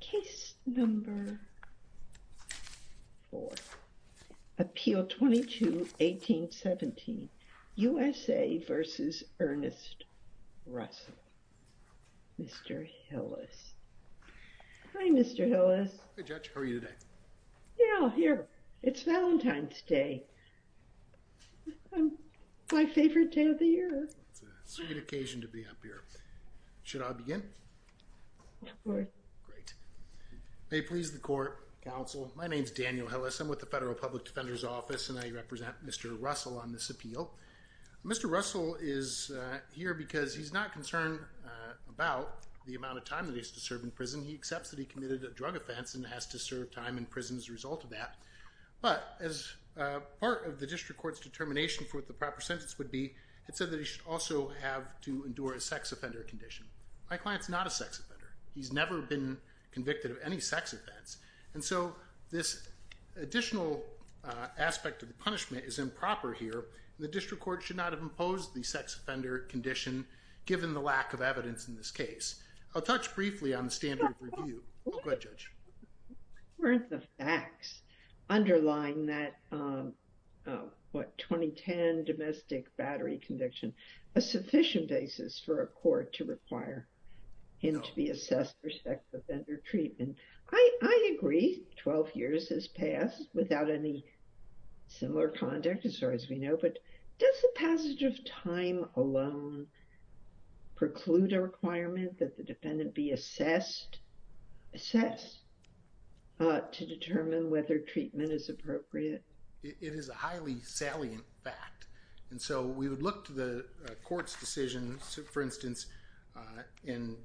Case number 4, Appeal 22-1817, U.S.A. v. Ernest Russell Mr. Hillis Hi Mr. Hillis Hi Judge, how are you today? Yeah, here, it's Valentine's Day My favorite day of the year It's a sweet occasion to be up here Should I begin? Yeah, go ahead Great May it please the Court, Counsel, my name is Daniel Hillis I'm with the Federal Public Defender's Office and I represent Mr. Russell on this appeal Mr. Russell is here because he's not concerned about the amount of time he has to serve in prison He accepts that he committed a drug offense and has to serve time in prison as a result of that But as part of the District Court's determination for what the proper sentence would be It said that he should also have to endure a sex offender condition My client's not a sex offender He's never been convicted of any sex offense And so this additional aspect of the punishment is improper here The District Court should not have imposed the sex offender condition given the lack of evidence in this case I'll touch briefly on the standard of review Go ahead Judge Weren't the facts underlying that 2010 domestic battery conviction A sufficient basis for a court to require him to be assessed for sex offender treatment I agree 12 years has passed without any similar conduct as far as we know But does the passage of time alone preclude a requirement that the defendant be assessed Assessed to determine whether treatment is appropriate It is a highly salient fact And so we would look to the court's decision For instance, in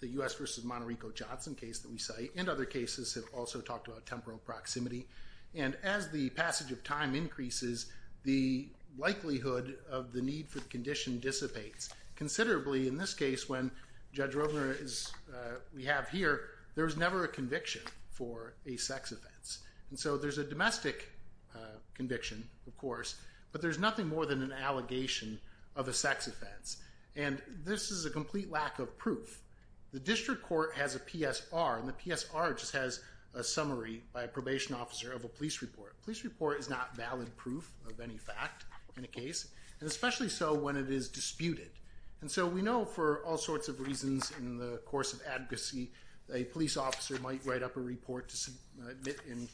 the U.S. versus Monterreco-Johnson case that we cite And other cases have also talked about temporal proximity And as the passage of time increases The likelihood of the need for the condition dissipates Considerably in this case when Judge Rovner is We have here there's never a conviction for a sex offense And so there's a domestic conviction of course But there's nothing more than an allegation of a sex offense And this is a complete lack of proof The District Court has a PSR And the PSR just has a summary by a probation officer of a police report A police report is not valid proof of any fact in a case And especially so when it is disputed And so we know for all sorts of reasons in the course of advocacy A police officer might write up a report to submit in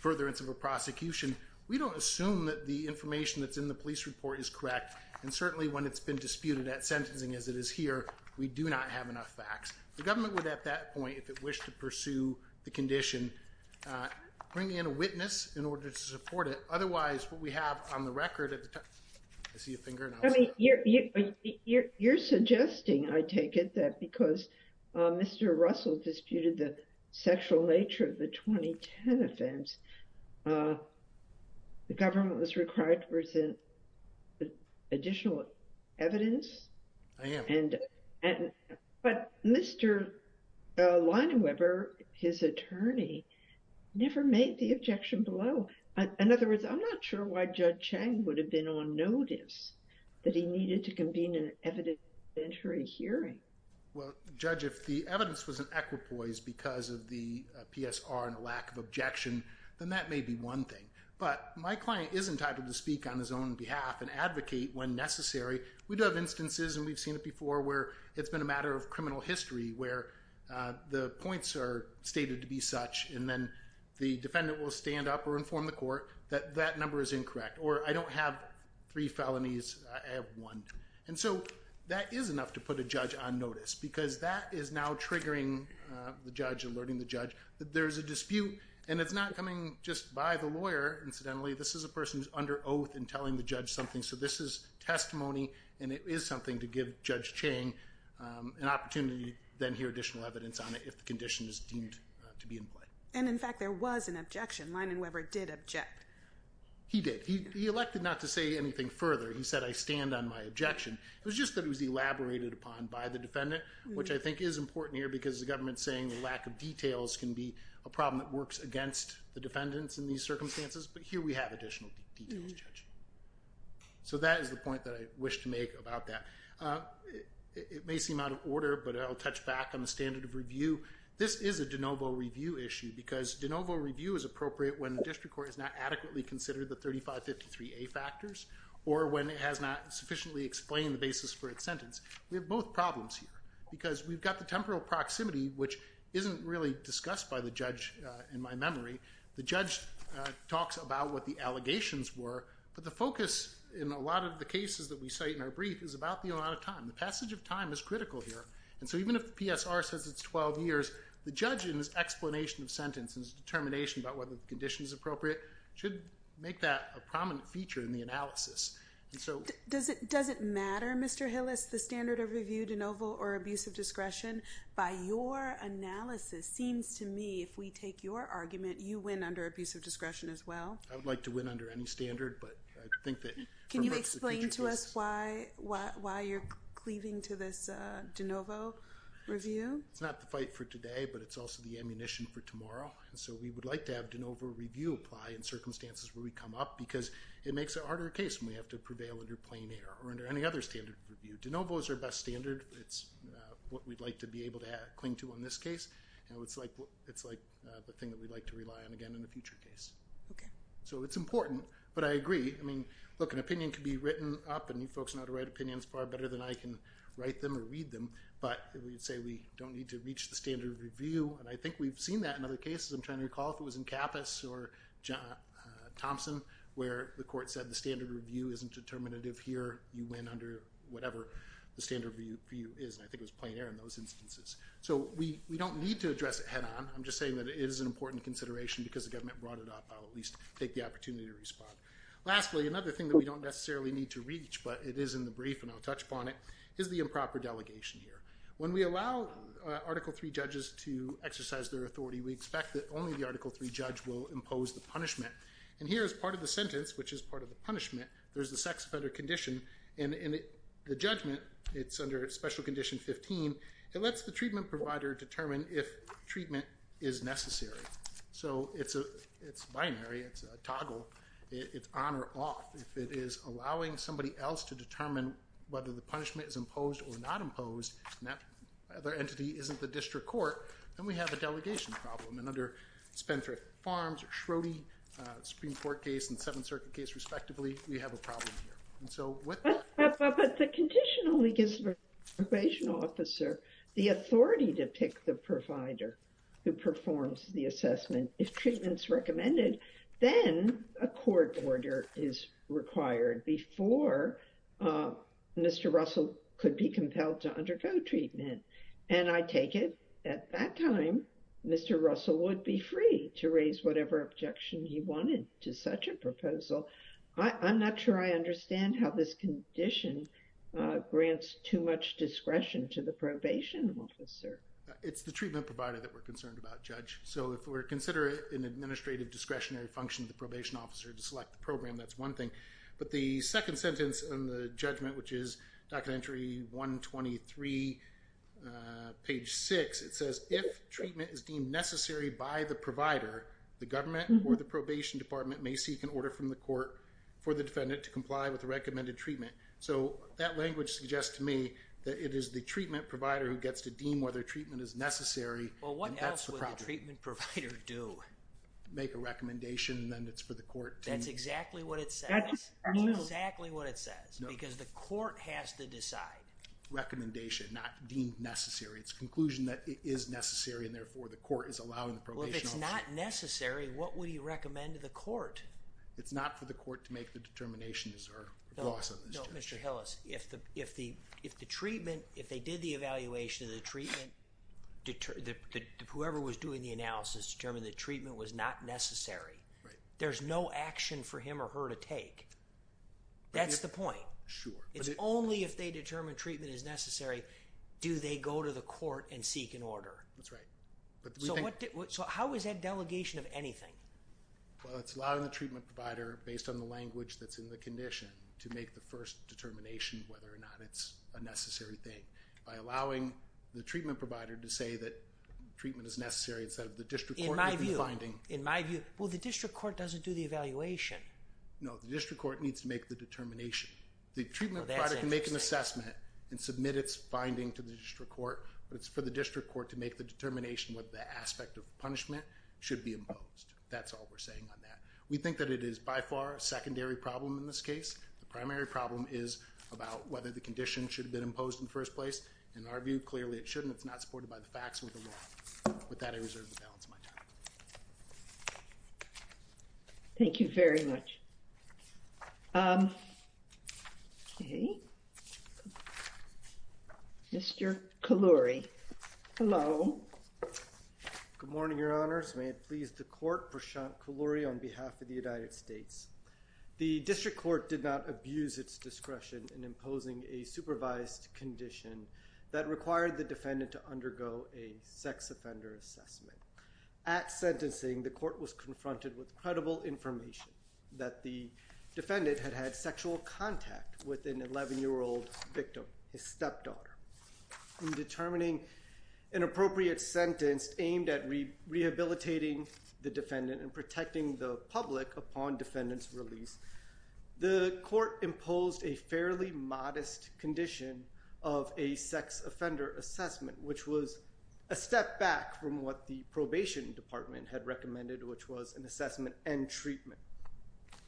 furtherance of a prosecution We don't assume that the information that's in the police report is correct And certainly when it's been disputed at sentencing as it is here We do not have enough facts The government would at that point if it wished to pursue the condition Bring in a witness in order to support it Otherwise what we have on the record at the time I see a finger in the house You're suggesting I take it that because Mr. Russell disputed the sexual nature of the 2010 offense The government was required to present additional evidence I am But Mr. Leinweber, his attorney, never made the objection below In other words, I'm not sure why Judge Chang would have been on notice That he needed to convene an evidentiary hearing Well, Judge, if the evidence was an equipoise because of the PSR and a lack of objection Then that may be one thing But my client is entitled to speak on his own behalf and advocate when necessary We do have instances and we've seen it before where it's been a matter of criminal history Where the points are stated to be such And then the defendant will stand up or inform the court that that number is incorrect Or I don't have three felonies I have one And so that is enough to put a judge on notice Because that is now triggering the judge Alerting the judge that there is a dispute And it's not coming just by the lawyer Incidentally, this is a person who's under oath and telling the judge something So this is testimony and it is something to give Judge Chang an opportunity Then hear additional evidence on it if the condition is deemed to be in play And in fact, there was an objection Leinweber did object He did He elected not to say anything further He said, I stand on my objection It was just that it was elaborated upon by the defendant Which I think is important here because the government's saying the lack of details Can be a problem that works against the defendants in these circumstances But here we have additional details, Judge So that is the point that I wish to make about that It may seem out of order, but I'll touch back on the standard of review This is a de novo review issue Because de novo review is appropriate when the district court is not adequately considered the 3553A factors Or when it has not sufficiently explained the basis for its sentence We have both problems here Because we've got the temporal proximity Which isn't really discussed by the judge in my memory The judge talks about what the allegations were But the focus in a lot of the cases that we cite in our brief Is about the amount of time The passage of time is critical here And so even if the PSR says it's 12 years The judge in his explanation of sentence And his determination about whether the condition is appropriate Should make that a prominent feature in the analysis And so Does it matter, Mr. Hillis, the standard of review, de novo, or abuse of discretion? If we take your argument You win under abuse of discretion as well I would like to win under any standard Can you explain to us why you're cleaving to this de novo review? It's not the fight for today But it's also the ammunition for tomorrow And so we would like to have de novo review apply In circumstances where we come up Because it makes it a harder case When we have to prevail under plain air Or under any other standard of review De novo is our best standard It's what we'd like to be able to cling to in this case And it's the thing that we'd like to rely on again in a future case Okay So it's important But I agree I mean, look, an opinion can be written up And you folks know how to write opinions far better than I can write them or read them But we'd say we don't need to reach the standard of review And I think we've seen that in other cases I'm trying to recall if it was in Capas or Thompson Where the court said the standard of review isn't determinative here You win under whatever the standard of review is And I think it was plain air in those instances So we don't need to address it head on I'm just saying that it is an important consideration Because the government brought it up I'll at least take the opportunity to respond Lastly, another thing that we don't necessarily need to reach But it is in the brief and I'll touch upon it Is the improper delegation here When we allow Article III judges to exercise their authority We expect that only the Article III judge will impose the punishment And here is part of the sentence, which is part of the punishment There's the sex offender condition And in the judgment, it's under Special Condition 15 It lets the treatment provider determine if treatment is necessary So it's binary, it's a toggle, it's on or off If it is allowing somebody else to determine Whether the punishment is imposed or not imposed And that other entity isn't the district court Then we have a delegation problem And under Spendthrift Farms, Schroding, Supreme Court case And Seventh Circuit case respectively We have a problem here But the condition only gives the probation officer The authority to pick the provider who performs the assessment If treatment's recommended, then a court order is required Before Mr. Russell could be compelled to undergo treatment And I take it at that time, Mr. Russell would be free To raise whatever objection he wanted to such a proposal I'm not sure I understand how this condition Grants too much discretion to the probation officer It's the treatment provider that we're concerned about, Judge So if we're considering an administrative discretionary function The probation officer to select the program, that's one thing But the second sentence in the judgment, which is Document Entry 123, page 6 It says, if treatment is deemed necessary by the provider The government or the probation department may seek an order from the court For the defendant to comply with the recommended treatment So that language suggests to me that it is the treatment provider Who gets to deem whether treatment is necessary Well what else would the treatment provider do? Make a recommendation and then it's for the court to That's exactly what it says That's exactly what it says Because the court has to decide Recommendation, not deemed necessary It's a conclusion that it is necessary And therefore the court is allowing the probation officer Well if it's not necessary, what would he recommend to the court? It's not for the court to make the determination No, Mr. Hillis, if the treatment, if they did the evaluation Whoever was doing the analysis determined that treatment was not necessary There's no action for him or her to take That's the point It's only if they determine treatment is necessary Do they go to the court and seek an order So how is that delegation of anything? Well it's allowing the treatment provider Based on the language that's in the condition To make the first determination Whether or not it's a necessary thing By allowing the treatment provider to say that Treatment is necessary instead of the district court In my view, in my view Well the district court doesn't do the evaluation No, the district court needs to make the determination The treatment provider can make an assessment And submit its finding to the district court But it's for the district court to make the determination Whether the aspect of punishment should be imposed That's all we're saying on that We think that it is by far a secondary problem in this case The primary problem is about whether the condition Should have been imposed in the first place In our view, clearly it shouldn't It's not supported by the facts or the law With that I reserve the balance of my time Thank you very much Okay Mr. Kalluri Hello Good morning your honors May it please the court Prashant Kalluri on behalf of the United States The district court did not abuse its discretion In imposing a supervised condition That required the defendant to undergo A sex offender assessment At sentencing the court was confronted with Incredible information that the defendant Had had sexual contact with an 11-year-old victim His stepdaughter In determining an appropriate sentence Aimed at rehabilitating the defendant And protecting the public upon defendant's release The court imposed a fairly modest condition Of a sex offender assessment Which was a step back from what the probation department Had recommended which was an assessment and treatment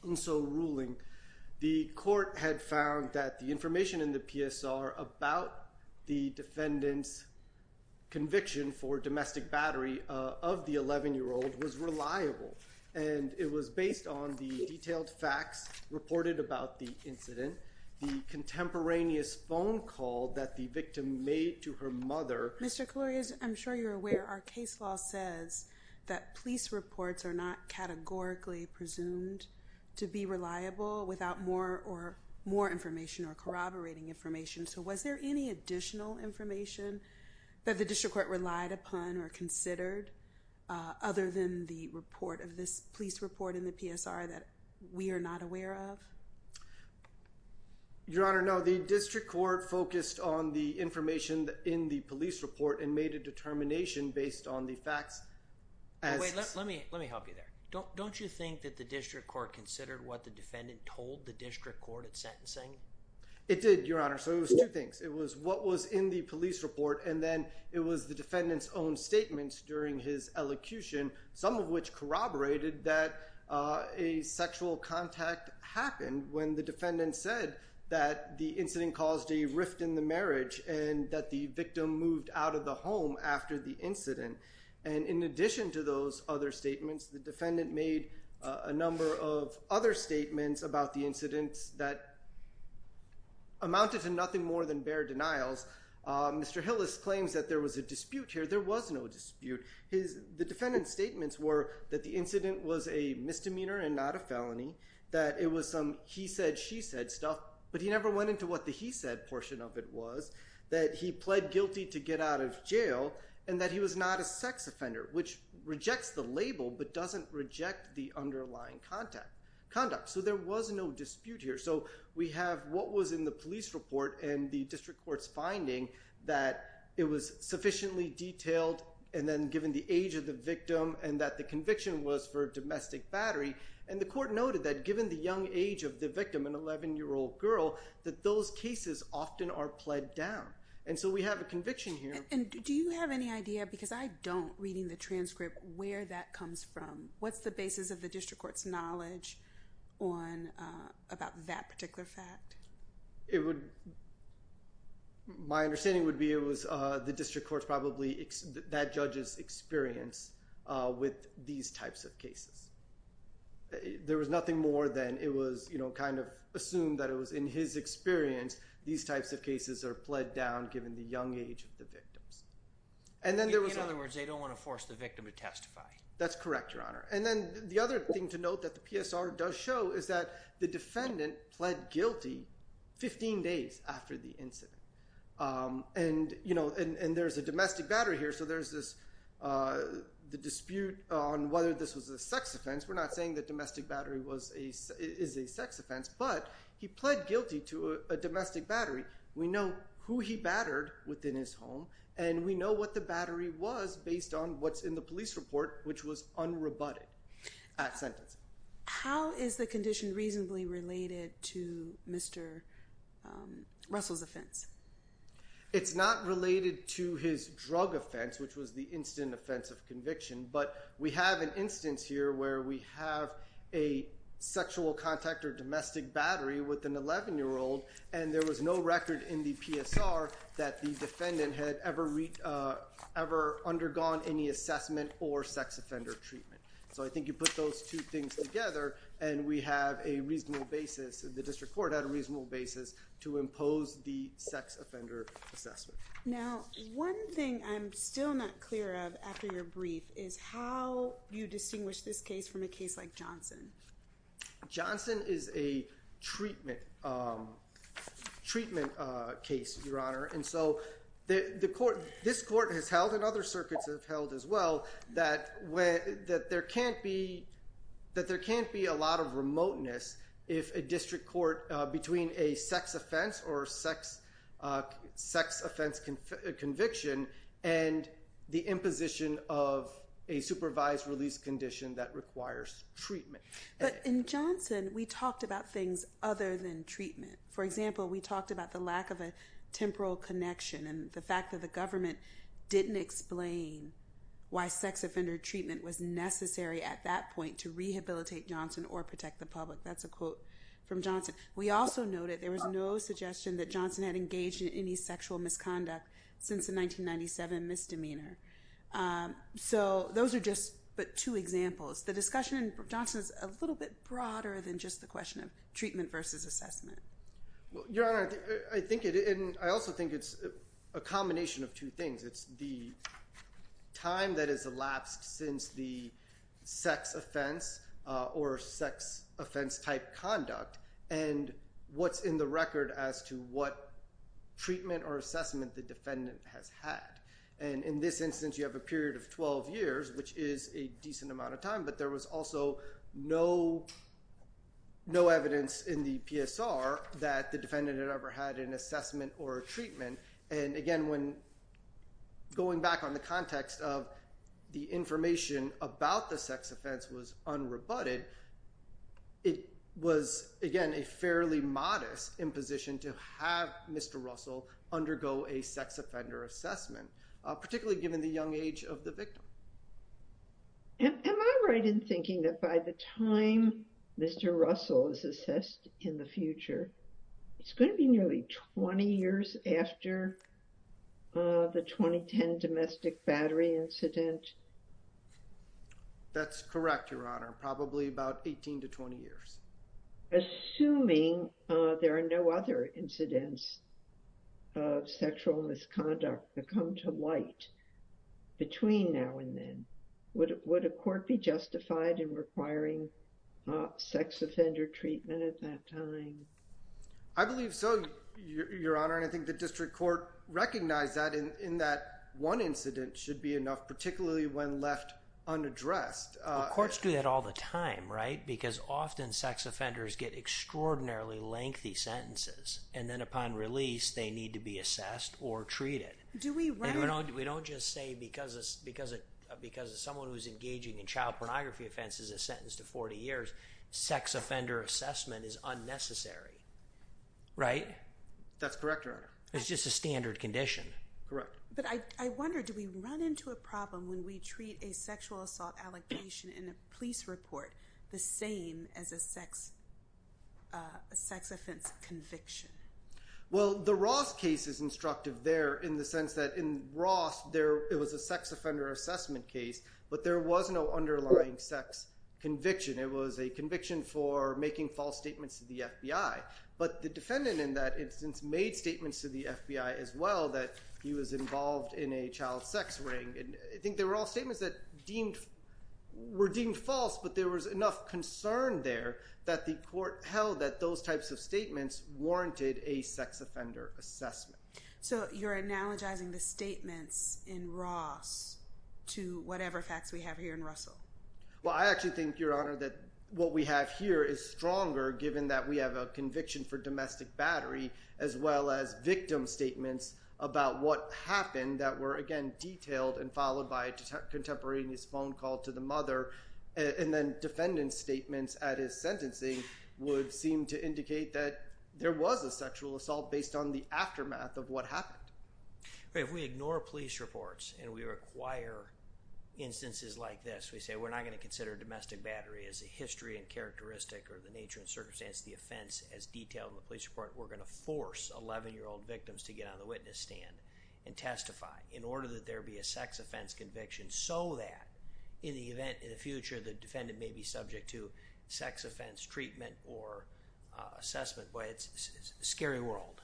And so ruling the court had found That the information in the PSR About the defendant's conviction For domestic battery of the 11-year-old Was reliable and it was based on The detailed facts reported about the incident The contemporaneous phone call That the victim made to her mother Mr. Kalluri I'm sure you're aware Our case law says that police reports Are not categorically presumed to be reliable Without more information or corroborating information So was there any additional information That the district court relied upon or considered Other than the report of this police report In the PSR that we are not aware of Your honor no the district court Focused on the information in the police report And made a determination based on the facts Wait let me help you there Don't you think that the district court Considered what the defendant told the district court At sentencing It did your honor so it was two things It was what was in the police report And then it was the defendant's own statements During his elocution some of which corroborated That a sexual contact happened When the defendant said that the incident Caused a rift in the marriage And that the victim moved out of the home After the incident And in addition to those other statements The defendant made a number of other statements About the incidents that Amounted to nothing more than bare denials Mr. Hillis claims that there was a dispute here There was no dispute The defendant's statements were That the incident was a misdemeanor And not a felony That it was some he said she said stuff But he never went into what the he said portion of it was That he pled guilty to get out of jail And that he was not a sex offender Which rejects the label But doesn't reject the underlying conduct So there was no dispute here So we have what was in the police report And the district court's finding That it was sufficiently detailed And then given the age of the victim And that the conviction was for domestic battery And the court noted that Given the young age of the victim An 11 year old girl That those cases often are pled down And so we have a conviction here And do you have any idea Because I don't reading the transcript Where that comes from What's the basis of the district court's knowledge On about that particular fact It would My understanding would be it was The district court's probably That judge's experience With these types of cases There was nothing more than it was You know kind of assumed That it was in his experience These types of cases are pled down Given the young age of the victims And then there was In other words they don't want to force The victim to testify That's correct your honor And then the other thing to note That the PSR does show Is that the defendant pled guilty 15 days after the incident And you know And there's a domestic battery here So there's this The dispute on whether this was a sex offense We're not saying that domestic battery Is a sex offense But he pled guilty to a domestic battery We know who he battered within his home And we know what the battery was Based on what's in the police report Which was unrebutted At sentencing How is the condition reasonably related To Mr. Russell's offense It's not related to his drug offense Which was the instant offense of conviction But we have an instance here Where we have a sexual contact Or domestic battery with an 11 year old And there was no record in the PSR That the defendant had ever Undergone any assessment Or sex offender treatment So I think you put those two things together And we have a reasonable basis The district court had a reasonable basis To impose the sex offender assessment Now one thing I'm still not clear of After your brief Is how you distinguish this case From a case like Johnson Johnson is a treatment case Your honor And so this court has held And other circuits have held as well That there can't be That there can't be a lot of remoteness If a district court Between a sex offense Or sex offense conviction And the imposition of A supervised release condition That requires treatment But in Johnson We talked about things other than treatment For example we talked about The lack of a temporal connection And the fact that the government Didn't explain Why sex offender treatment Was necessary at that point To rehabilitate Johnson Or protect the public That's a quote from Johnson We also noted there was no suggestion That Johnson had engaged In any sexual misconduct Since the 1997 misdemeanor So those are just but two examples The discussion in Johnson Is a little bit broader Than just the question of Treatment versus assessment Your honor I think it And I also think it's A combination of two things It's the time that has elapsed Since the sex offense Or sex offense type conduct And what's in the record As to what treatment Or assessment The defendant has had And in this instance You have a period of 12 years Which is a decent amount of time But there was also No evidence in the PSR That the defendant Had ever had an assessment Or a treatment And again when Going back on the context of The information about the sex offense Was unrebutted It was again a fairly modest Imposition to have Mr. Russell Undergo a sex offender assessment Particularly given the young age Of the victim Am I right in thinking That by the time Mr. Russell is assessed In the future It's going to be nearly 20 years after The 2010 domestic battery incident That's correct your honor Probably about 18 to 20 years Assuming there are No other incidents Of sexual misconduct That come to light Between now and then Would a court be justified In requiring Sex offender treatment At that time I believe so your honor And I think the district court Recognized that In that one incident Should be enough Particularly when left unaddressed Courts do that all the time right Because often sex offenders Get extraordinarily lengthy sentences And then upon release They need to be assessed Or treated Do we run We don't just say Because of someone Who's engaging in Child pornography offenses Is sentenced to 40 years Sex offender assessment Is unnecessary Right That's correct your honor It's just a standard condition Correct But I wonder Do we run into a problem When we treat A sexual assault allegation In a police report The same as a sex Sex offense Conviction Well the Ross case Is instructive there In the sense that in Ross there It was a sex offender Assessment case But there was no Underlying sex Conviction It was a conviction For making false statements To the FBI But the defendant In that instance Made statements To the FBI As well that He was involved In a child sex ring And I think They were all statements That deemed Were deemed false But there was Enough concern there That the court Held that those Types of statements Warranted a sex Offender assessment So you're Analogizing the Statements In Ross To whatever Facts we have Here in Russell Well I actually Think your honor That what we have Here is stronger Given that we have A conviction for Domestic battery As well as Victim statements About what happened That were again Detailed and followed By a contemporaneous Phone call to the Mother And then Defendant statements At his sentencing Would seem to Indicate that There was a Sexual assault Based on the Aftermath of what Happened If we ignore Police reports And we require Instances like this We say we're not Going to consider Domestic battery As a history And characteristic Or the nature And circumstance Of the offense As detailed In the police report We're going to Force 11 year old Victims to get on The witness stand And testify In order that There be a Sex offense conviction So that In the event In the future The defendant may be Subject to Sex offense Treatment or Assessment But it's A scary world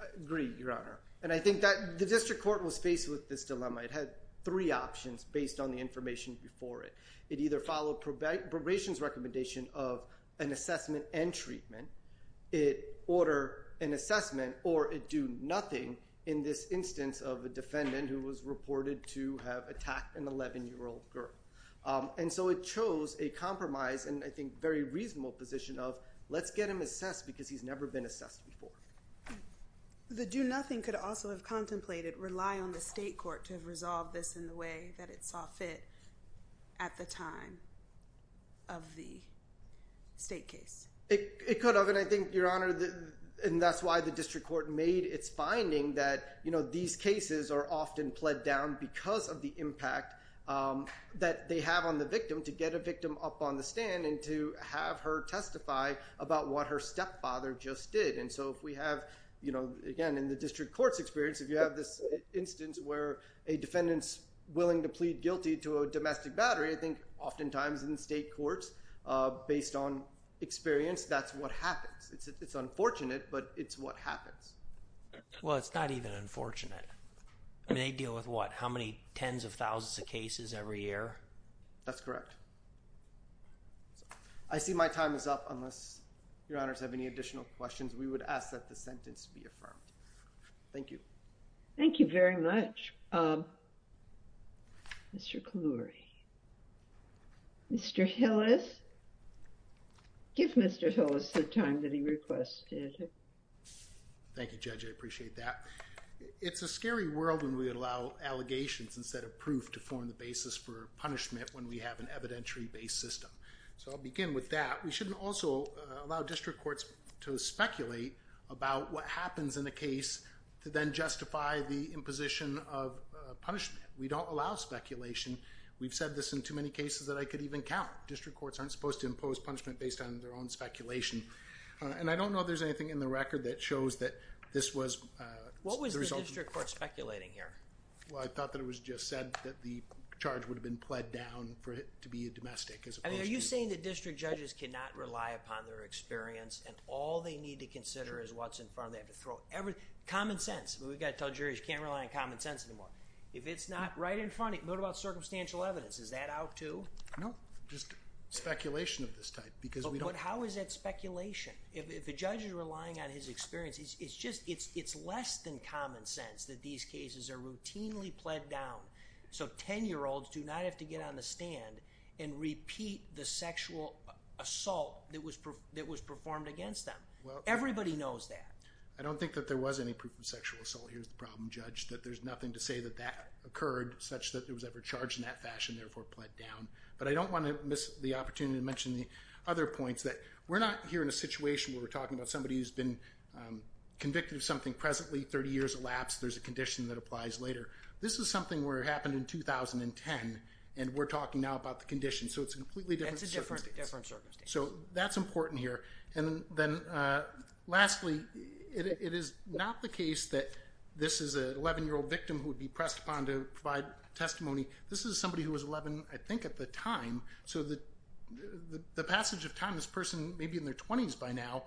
I agree Your honor And I think that The district court Was faced with This dilemma It had three options Based on the Information before it It either Followed probation's Recommendation of An assessment And treatment It order An assessment Or a do nothing In this instance Of a defendant Who was reported To have Attacked an 11 year old girl And so it Chose a compromise And I think Very reasonable Position of Let's get him Assessed Because he's Never been Assessed before The do nothing Could also Have contemplated Rely on the State court To have Resolved this In the way That it Saw fit At the time Of the State case It could Have And I think Your honor And that's why The district court Made its Finding that You know These cases Are often Pled down Because of the Impact that They have on The victim To get a Victim up on The stand And to have Her testify About what Her stepfather Just did And so if We have You know Again in the District court A case That's Not based On experience That's what Happens It's unfortunate But it's what Happens Well it's not Even unfortunate And they deal With what How many Tens of thousands Of cases Every year That's correct I see my Time is up Unless Your honors Have any Additional questions We would ask That the Sentence be Give Mr. Hillis the Time that he Requested Thank you Judge I Appreciate that It's a Scary world When we Allow allegations Instead of Proof to Form the Basis for Punishment When we Have an Evidentiary Based system So I'll Begin with That We Shouldn't Also Allow District Courts To Speculate About what Happens In a Case To Then Justify The Imposition Of Punishment We Don't Allow Speculation We've Said This In Too Many Cases That I Could Even Count And I Don't Know If There's Anything In The Record That Shows That This Was Speculating Here I Thought It Was Just Said That The Charge Would Have Been Speculation Of This Type How Is That Speculation If The Judge Is Relying On His Experience It Is Less Than Common Sense So Ten Year Olds Do Not Have To Get On The Stand And Repeat The Sexual Assault That Was Performed Against Them Everybody Knows That I Don't Think That There Was Any Proof Of Sexual Assault Here Is The Problem Judge There Is Nothing To Say That That Occurred Such That There Was Ever Charged In That Fashion I Don't Want To Miss The Opportunity To Get On The Stand And Repeat The Stand And Repeat The Sexual Assault That Was Performed Against Them Everybody Knows That There Was Nothing To Say That There Is Nothing To Say That There Was Nothing To Say That There Was Nothing To Say That There Is Nothing To Say To Him With No Reason for Nothing To Say That There Nothing To Say That The re Was Nothing To Say That There Is Nothing To Say That Not Does It Sounds Very Appreciated And The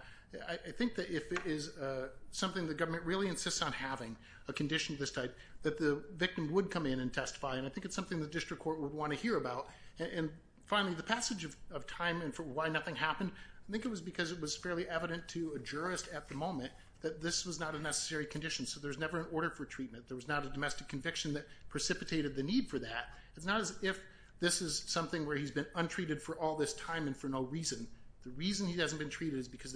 Case Will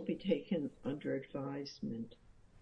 Be Taken Under Advisement